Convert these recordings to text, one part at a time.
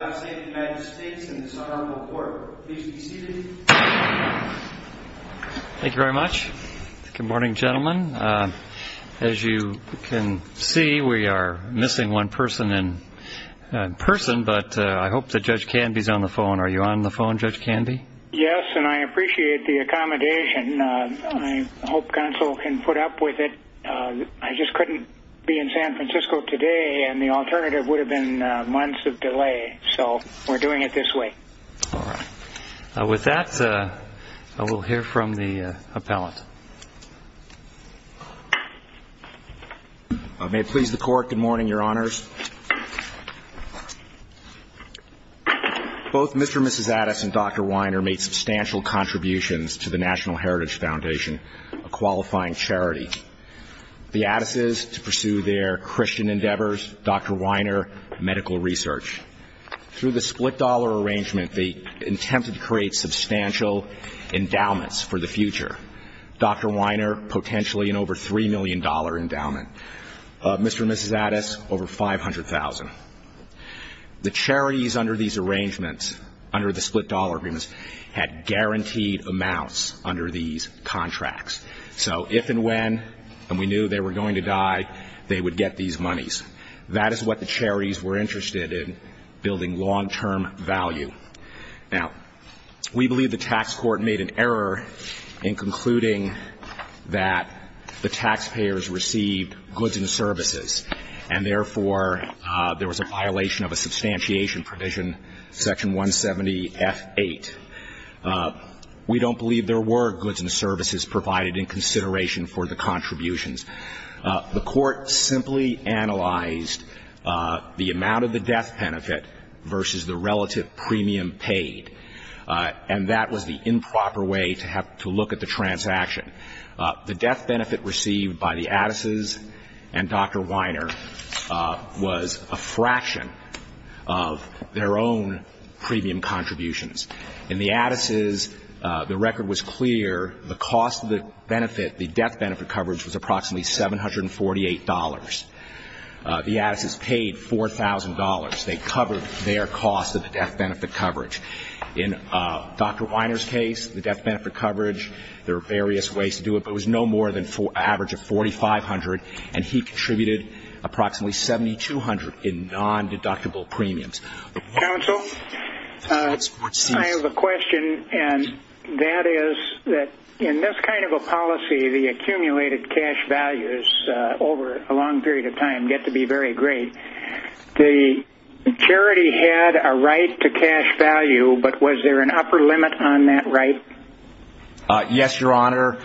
Thank you very much. Good morning, gentlemen. As you can see, we are missing one person in person, but I hope that Judge Canby is on the phone. Are you on the phone, Judge Canby? Yes, and I appreciate the accommodation. I hope counsel can put up with it. I just couldn't be in San Francisco today, and the alternative would have been months of delay, so we're doing it this way. All right. With that, we'll hear from the appellant. May it please the Court. Good morning, Your Honors. Both Mr. and Mrs. Addis and Dr. Weiner made substantial contributions to the National Heritage Foundation, a qualifying charity. The Addises, to pursue their Christian endeavors. Dr. Weiner, medical research. Through the split-dollar arrangement, they attempted to create substantial endowments for the future. Dr. Weiner, potentially an over $3 million endowment. Mr. and Mrs. Addis, over $500,000. The charities under these arrangements, under the split-dollar agreements, had guaranteed amounts under these contracts. So if and when, and we knew they were going to die, they would get these monies. That is what the charities were interested in, building long-term value. Now, we believe the tax court made an error in concluding that the taxpayers received goods and services, and therefore, there was a violation of a substantiation provision, section 170F8. We don't believe there were goods and services provided in consideration for the contributions. The court simply analyzed the amount of the death benefit versus the relative premium paid. And that was the improper way to have to look at the transaction. The death benefit received by the Addises and Dr. Weiner was a fraction of their own premium contributions. In the Addises, the record was clear. The cost of the benefit, the death benefit coverage, was approximately $748. The Addises paid $4,000. They covered their cost of the death benefit coverage. In Dr. Weiner's case, the death benefit coverage, there were various ways to do it, but it was no more than an average of $4,500, and he contributed approximately $7,200 in non-deductible premiums. Counsel, I have a question, and that is that in this kind of a policy, the accumulated cash values over a long period of time get to be very great. The charity had a right to cash value, but was there an upper limit on that right? Yes, Your Honor.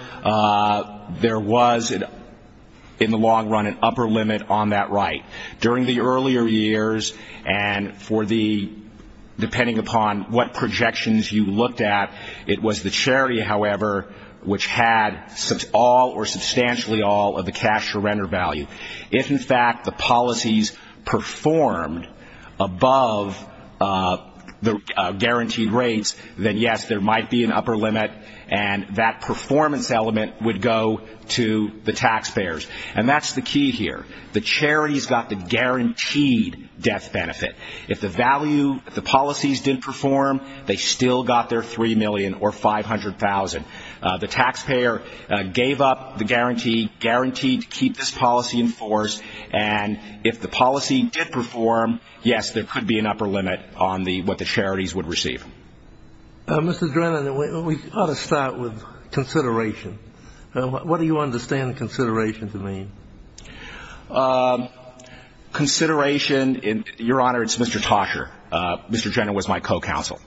There was, in the long run, an upper limit on that right. During the earlier years, and for the, depending upon what projections you looked at, it was the charity, however, which had all or substantially all of the cash surrender value. If, in fact, the policies performed above the guaranteed rates, then yes, there might be an upper limit, and that performance element would go to the taxpayers. And that's the key here. The charities got the guaranteed death benefit. If the value, if the policies didn't perform, they still got their $3 million or $500,000. The taxpayer gave up the guarantee, guaranteed to keep this policy in force, and if the policy did perform, yes, there could be an upper limit on the, what the charities would receive. Mr. Drennan, we ought to start with consideration. What do you understand consideration to mean? Consideration, Your Honor, it's Mr. Tosher. Mr. Drennan was my co-counsel.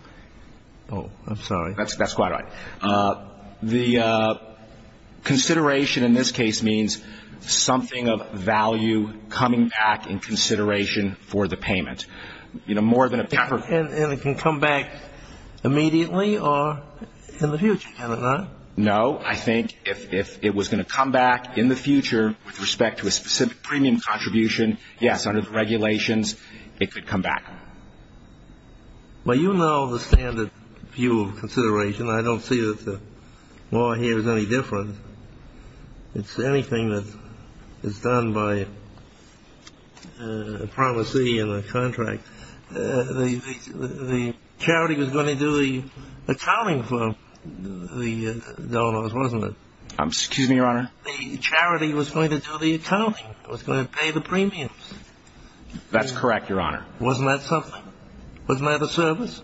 Oh, I'm sorry. That's quite right. The consideration in this case means something of value coming back in consideration for the payment. You know, more than a pepper. And it can come back immediately or in the future, can it not? No. I think if it was going to come back in the future with respect to a specific premium contribution, yes, under the regulations, it could come back. Well, you know the standard view of consideration. I don't see that the law here is any different. It's anything that is done by a promisee and a contract. The charity was going to do the accounting for the donors, wasn't it? Excuse me, Your Honor? The charity was going to do the accounting. It was going to pay the premiums. That's correct, Your Honor. Wasn't that something? Wasn't that a service?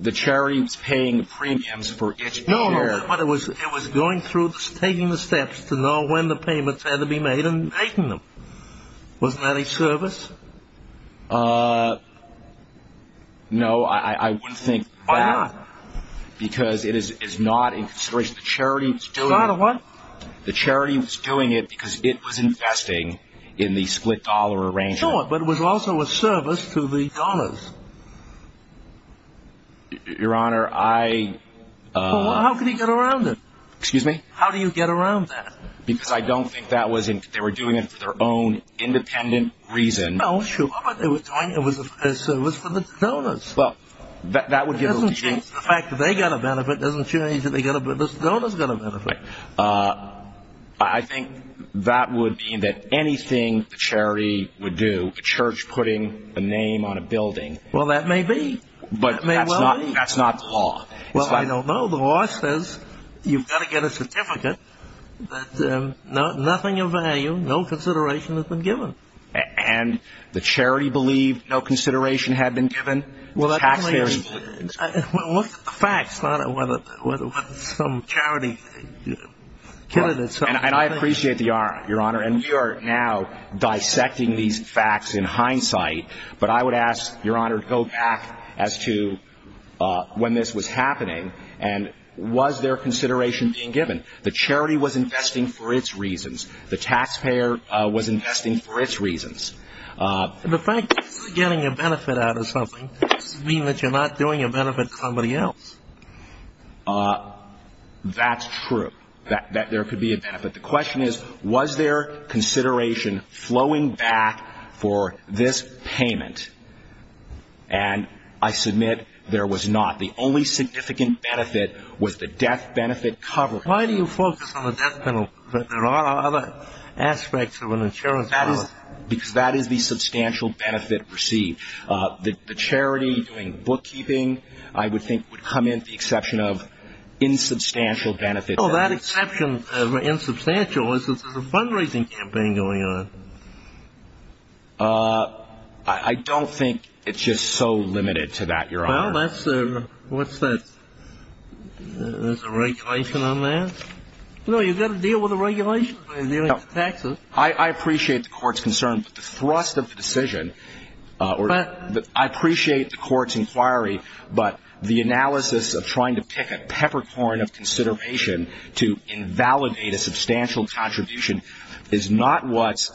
The charity was paying the premiums for each share. No, no, but it was going through, taking the steps to know when the payments had to be made and making them. Wasn't that a service? No, I wouldn't think that because it is not in consideration. The charity was doing it because it was investing in the split dollar arrangement. Sure, but it was also a service to the donors. Your Honor, I... Well, how could he get around it? Excuse me? How do you get around that? Because I don't think that was... they were doing it for their own independent reason. Well, sure, but they were doing it as a service for the donors. That would give them a chance. It doesn't change the fact that they got a benefit. It doesn't change that the donors got a benefit. I think that would mean that anything the charity would do, a church putting a name on a building... Well, that may be. But that's not the law. Well, I don't know. The law says you've got to get a certificate, but nothing of value, no consideration has been given. And the charity believed no consideration had been given. Well, that's clear. What facts, Your Honor, whether some charity... And I appreciate the honor, Your Honor, and we are now dissecting these facts in hindsight, but I would ask, Your Honor, to go back as to when this was happening, and was there consideration being given? The charity was investing for its reasons. The taxpayer was investing for its reasons. The fact that you're getting a benefit out of something doesn't mean that you're not doing a benefit to somebody else. That's true, that there could be a benefit. The question is, was there consideration flowing back for this payment? And I submit there was not. The only significant benefit was the death benefit coverage. Why do you focus on the death benefit? There are other aspects of an insurance policy. Because that is the substantial benefit received. The charity doing bookkeeping, I would think, would come in with the exception of insubstantial benefits. Well, that exception of insubstantial is that there's a fundraising campaign going on. I don't think it's just so limited to that, Your Honor. Well, that's... What's that? There's a regulation on that? No, you've got to deal with the regulations when you're dealing with taxes. Well, I appreciate the Court's concern, but the thrust of the decision... I appreciate the Court's inquiry, but the analysis of trying to pick a peppercorn of consideration to invalidate a substantial contribution is not what's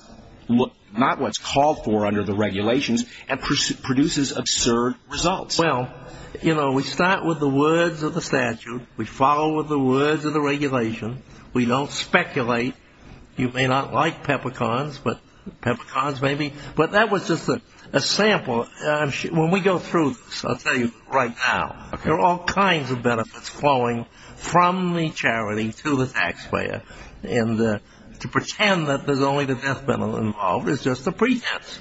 called for under the regulations and produces absurd results. Well, you know, we start with the words of the statute. We follow the words of the regulation. We don't speculate. You may not like peppercorns, but peppercorns maybe. But that was just a sample. When we go through this, I'll tell you right now, there are all kinds of benefits flowing from the charity to the taxpayer, and to pretend that there's only the death benefit involved is just a pretense.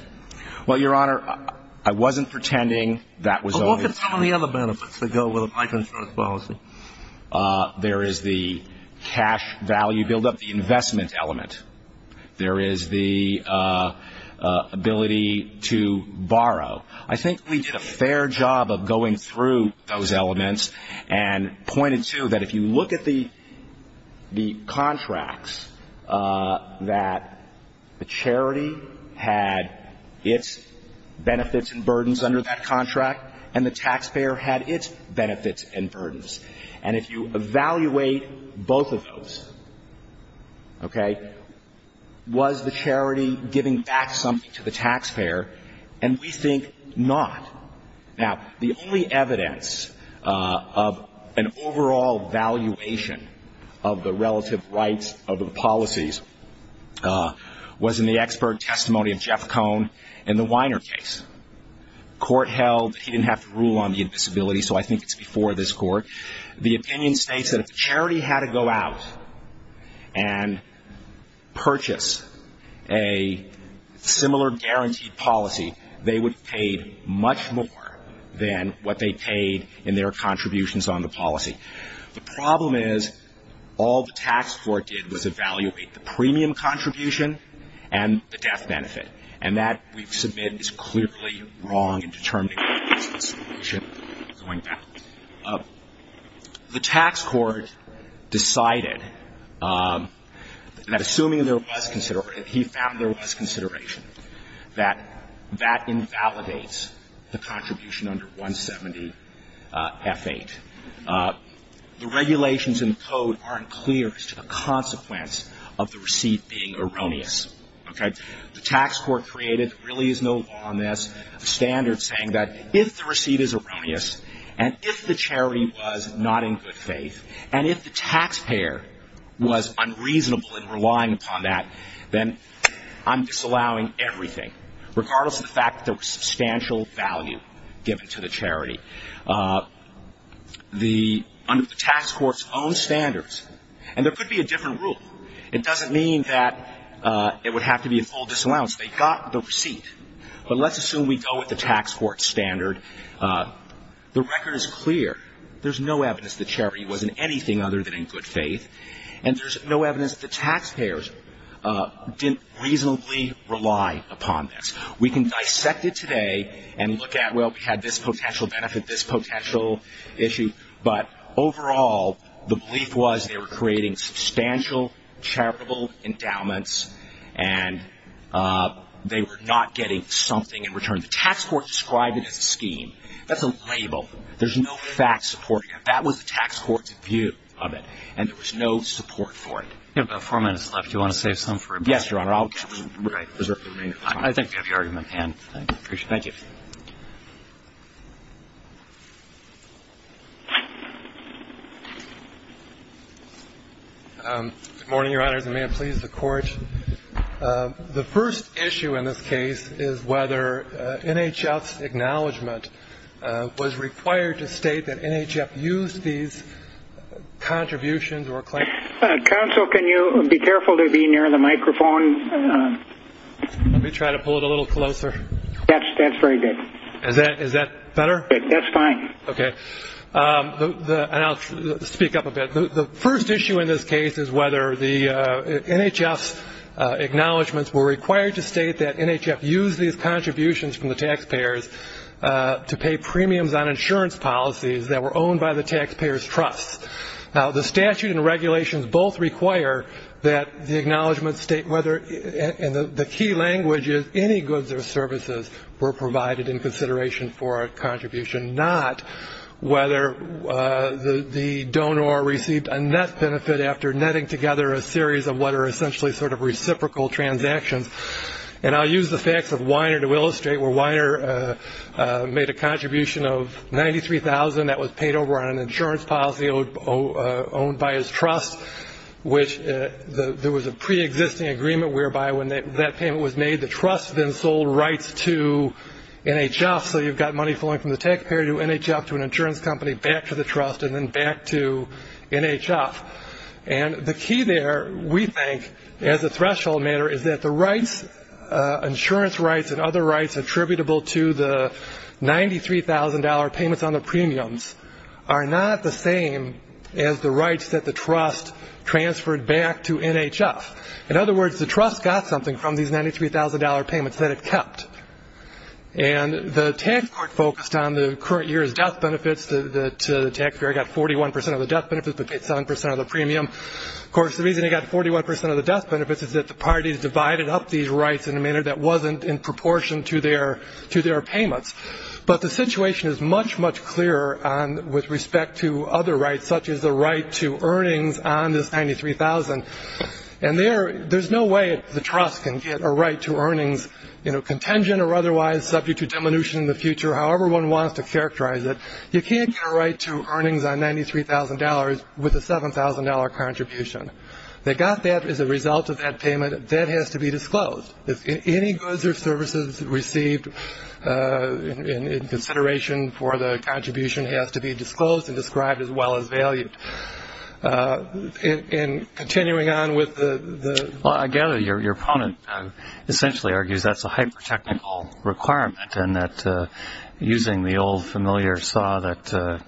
Well, Your Honor, I wasn't pretending that was only the death benefit. Well, look at some of the other benefits that go with a life insurance policy. There is the cash value buildup, the investment element. There is the ability to borrow. I think we did a fair job of going through those elements and pointed to that if you look at the contracts, that the charity had its benefits and burdens under that contract, and the taxpayer had its benefits and burdens. And if you evaluate both of those, okay, was the charity giving back something to the taxpayer? And we think not. Now, the only evidence of an overall valuation of the relative rights of the policies was in the expert testimony of Jeff Cohn in the Weiner case. The court held that he didn't have to rule on the invisibility, so I think it's before this court. The opinion states that if the charity had to go out and purchase a similar guaranteed policy, they would be paid much more than what they paid in their contributions on the policy. The problem is, all the tax court did was evaluate the premium contribution and the death benefit. And that, we submit, is clearly wrong in determining what is the solution going down. The tax court decided that, assuming there was consideration, he found there was consideration, that that invalidates the contribution under 170F8. The regulations in the code aren't clear as to the consequence of the receipt being erroneous. The tax court created, there really is no law on this, standards saying that if the receipt is erroneous and if the charity was not in good faith and if the taxpayer was unreasonable in relying upon that, then I'm disallowing everything, regardless of the fact that there was substantial value given to the charity. Under the tax court's own standards, and there could be a different rule, it doesn't mean that it would have to be a full disallowance. They got the receipt. But let's assume we go with the tax court's standard. The record is clear. There's no evidence the charity was in anything other than in good faith. And there's no evidence the taxpayers didn't reasonably rely upon this. We can dissect it today and look at, well, we had this potential benefit, this potential issue, but overall the belief was they were creating substantial charitable endowments and they were not getting something in return. The tax court described it as a scheme. That's a label. There's no fact supporting it. That was the tax court's view of it. And there was no support for it. We have about four minutes left. Do you want to save some for him? Yes, Your Honor. I think we have your argument, Pan. Thank you. Thank you. Good morning, Your Honors, and may it please the Court. The first issue in this case is whether NHF's acknowledgement was required to state that NHF used these contributions or claims. Counsel, can you be careful to be near the microphone? Let me try to pull it a little closer. That's very good. Is that better? That's fine. Okay. And I'll speak up a bit. The first issue in this case is whether the NHF's acknowledgements were required to state that NHF used these contributions from the taxpayers to pay premiums on insurance policies that were owned by the taxpayers' trusts. Now, the statute and regulations both require that the acknowledgments state whether, and the key language is any goods or services were provided in consideration for a contribution, not whether the donor received a net benefit after netting together a series of what are essentially sort of reciprocal transactions. And I'll use the facts of Weiner to illustrate where Weiner made a contribution of $93,000. That was paid over on an insurance policy owned by his trust, which there was a preexisting agreement whereby when that payment was made, the trust then sold rights to NHF. So you've got money flowing from the taxpayer to NHF, to an insurance company, back to the trust, and then back to NHF. And the key there, we think, as a threshold matter, is that the insurance rights and other rights attributable to the $93,000 payments on the premiums are not the same as the rights that the trust transferred back to NHF. In other words, the trust got something from these $93,000 payments that it kept. And the tax court focused on the current year's death benefits. The taxpayer got 41 percent of the death benefits but paid 7 percent of the premium. Of course, the reason it got 41 percent of the death benefits is that the parties divided up these rights in a manner that wasn't in proportion to their payments. But the situation is much, much clearer with respect to other rights, such as the right to earnings on this $93,000. And there's no way the trust can get a right to earnings, you know, contingent or otherwise, subject to diminution in the future, however one wants to characterize it. You can't get a right to earnings on $93,000 with a $7,000 contribution. They got that as a result of that payment. That has to be disclosed. If any goods or services received in consideration for the contribution has to be disclosed and described as well as valued. And continuing on with the- Well, I gather your opponent essentially argues that's a hyper-technical requirement and that using the old familiar saw that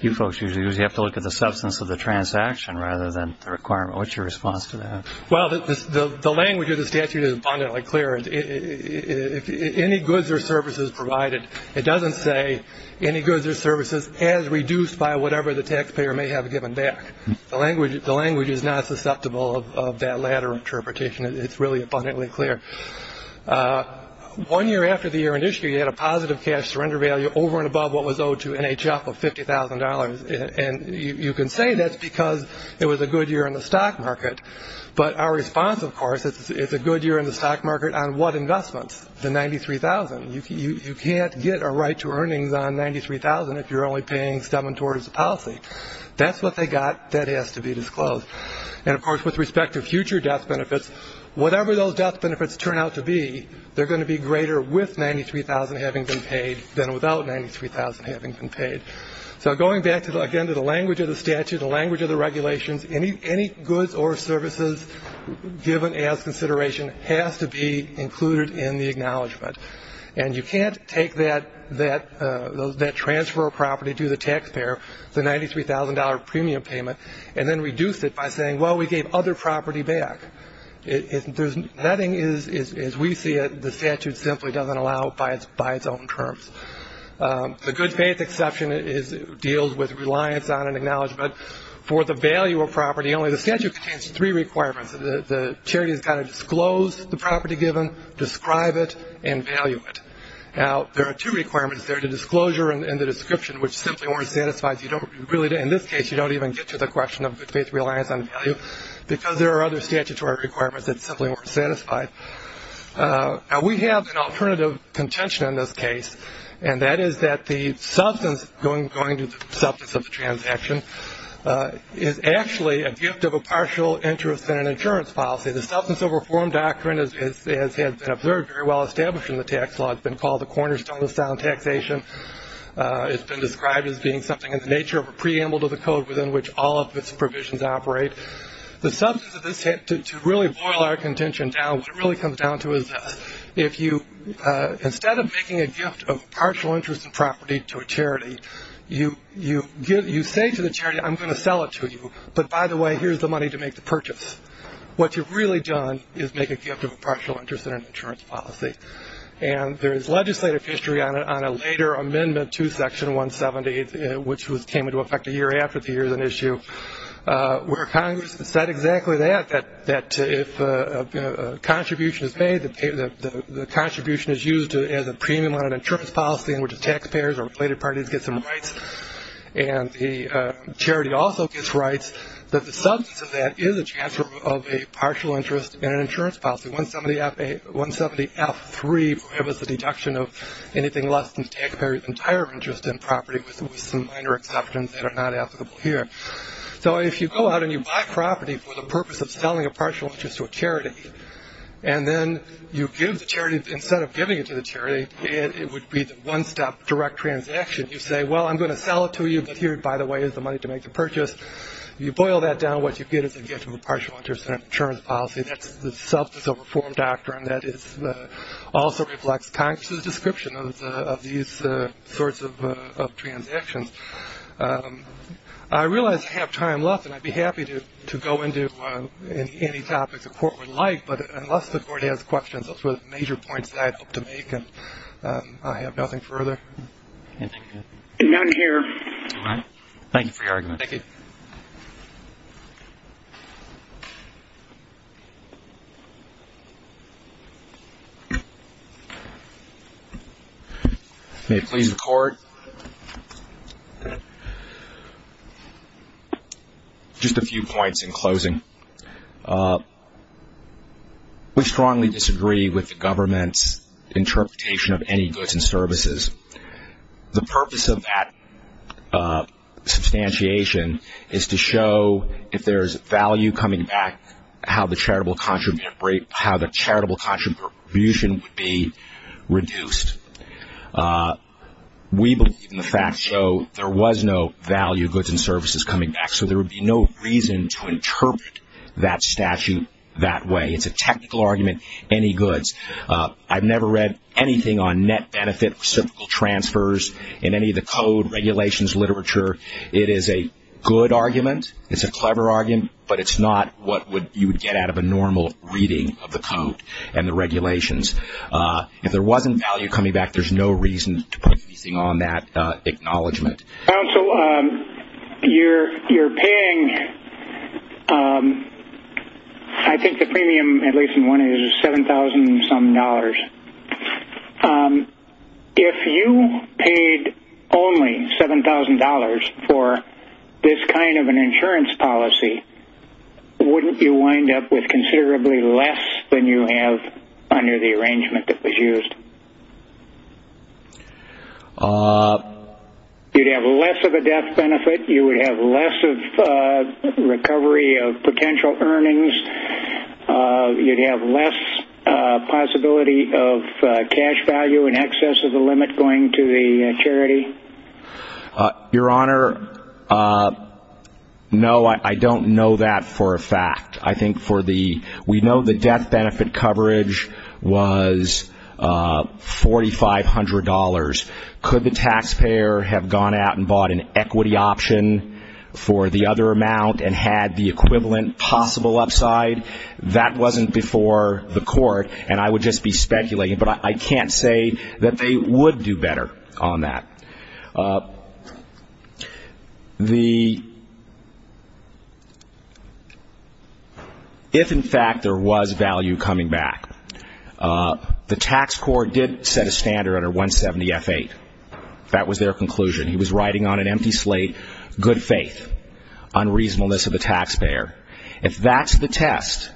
you folks usually use, you have to look at the substance of the transaction rather than the requirement. What's your response to that? Well, the language of the statute is abundantly clear. If any goods or services provided, it doesn't say any goods or services as reduced by whatever the taxpayer may have given back. The language is not susceptible of that latter interpretation. It's really abundantly clear. One year after the year in issue, you had a positive cash surrender value over and above what was owed to NHF of $50,000. And you can say that's because it was a good year in the stock market. But our response, of course, is it's a good year in the stock market on what investments? The $93,000. You can't get a right to earnings on $93,000 if you're only paying $7,000 towards the policy. That's what they got. That has to be disclosed. And, of course, with respect to future death benefits, whatever those death benefits turn out to be, they're going to be greater with $93,000 having been paid than without $93,000 having been paid. So going back, again, to the language of the statute, the language of the regulations, any goods or services given as consideration has to be included in the acknowledgment. And you can't take that transfer of property to the taxpayer, the $93,000 premium payment, and then reduce it by saying, well, we gave other property back. If there's nothing, as we see it, the statute simply doesn't allow it by its own terms. The good faith exception deals with reliance on an acknowledgment. For the value of property only, the statute contains three requirements. The charity has got to disclose the property given, describe it, and value it. Now, there are two requirements there, the disclosure and the description, which simply aren't satisfied. In this case, you don't even get to the question of good faith reliance on value because there are other statutory requirements that simply aren't satisfied. Now, we have an alternative contention in this case, and that is that the substance going to the substance of the transaction is actually a gift of a partial interest in an insurance policy. The substance of a reform doctrine has been observed very well established in the tax law. It's been called the cornerstone of sound taxation. It's been described as being something in the nature of a preamble to the code within which all of its provisions operate. The substance of this, to really boil our contention down, what it really comes down to is if you, instead of making a gift of partial interest in property to a charity, you say to the charity, I'm going to sell it to you, but by the way, here's the money to make the purchase. What you've really done is make a gift of a partial interest in an insurance policy. And there is legislative history on a later amendment to Section 170, which came into effect a year after the year of the issue, where Congress said exactly that, that if a contribution is made, the contribution is used as a premium on an insurance policy in which the taxpayers or related parties get some rights, and the charity also gets rights, that the substance of that is a transfer of a partial interest in an insurance policy, 170F3 prohibits the deduction of anything less than the taxpayer's entire interest in property, with some minor exceptions that are not applicable here. So if you go out and you buy property for the purpose of selling a partial interest to a charity, and then you give the charity, instead of giving it to the charity, it would be the one-stop direct transaction. You say, well, I'm going to sell it to you, but here, by the way, is the money to make the purchase. You boil that down, what you get is a gift of a partial interest in an insurance policy. That's the substance of a reform doctrine that also reflects Congress's description of these sorts of transactions. I realize I have time left, and I'd be happy to go into any topics the Court would like, but unless the Court has questions, those were the major points that I'd hope to make, and I have nothing further. None here. All right. Thank you for your argument. Thank you. May it please the Court? Just a few points in closing. We strongly disagree with the government's interpretation of any goods and services. The purpose of that substantiation is to show if there is value coming back, how the charitable contribution would be reduced. We believe in the fact, though, there was no value of goods and services coming back, so there would be no reason to interpret that statute that way. It's a technical argument, any goods. I've never read anything on net benefit reciprocal transfers in any of the code regulations literature. It is a good argument. It's a clever argument, but it's not what you would get out of a normal reading of the code and the regulations. If there wasn't value coming back, there's no reason to put anything on that acknowledgement. Counsel, you're paying, I think the premium, at least in one instance, 7,000-some dollars. If you paid only $7,000 for this kind of an insurance policy, wouldn't you wind up with considerably less than you have under the arrangement that was used? You'd have less of a death benefit. You would have less of recovery of potential earnings. You'd have less possibility of cash value in excess of the limit going to the charity. Your Honor, no, I don't know that for a fact. I think for the we know the death benefit coverage was $4,500. Could the taxpayer have gone out and bought an equity option for the other amount and had the equivalent possible upside? That wasn't before the court, and I would just be speculating, but I can't say that they would do better on that. If, in fact, there was value coming back, the tax court did set a standard under 170F8. That was their conclusion. He was writing on an empty slate, good faith, unreasonableness of the taxpayer. If that's the test,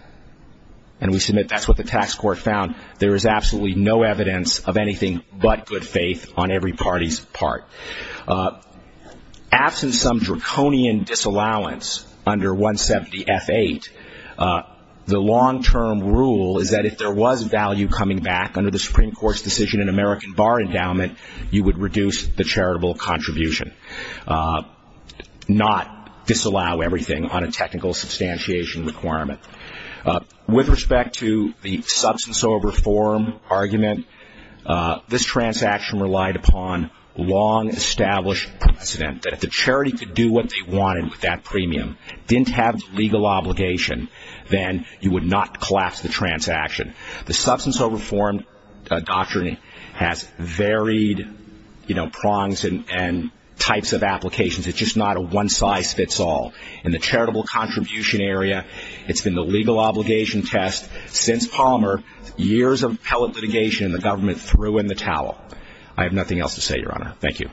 and we submit that's what the tax court found, there is absolutely no evidence of anything but good faith on every party's part. After some draconian disallowance under 170F8, the long-term rule is that if there was value coming back under the Supreme Court's decision in American Bar Endowment, you would reduce the charitable contribution, not disallow everything on a technical substantiation requirement. With respect to the substance over form argument, this transaction relied upon long-established precedent that if the charity could do what they wanted with that premium, didn't have legal obligation, then you would not collapse the transaction. The substance over form doctrine has varied prongs and types of applications. It's just not a one-size-fits-all. In the charitable contribution area, it's been the legal obligation test. Since Palmer, years of pellet litigation, the government threw in the towel. I have nothing else to say, Your Honor. Thank you.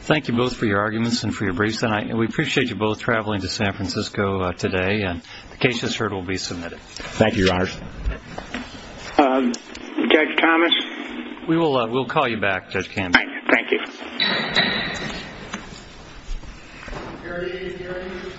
Thank you both for your arguments and for your briefs. We appreciate you both traveling to San Francisco today. The case that's heard will be submitted. Thank you, Your Honors. Judge Thomas? We'll call you back, Judge Campbell. Thank you. Thank you, Your Honor.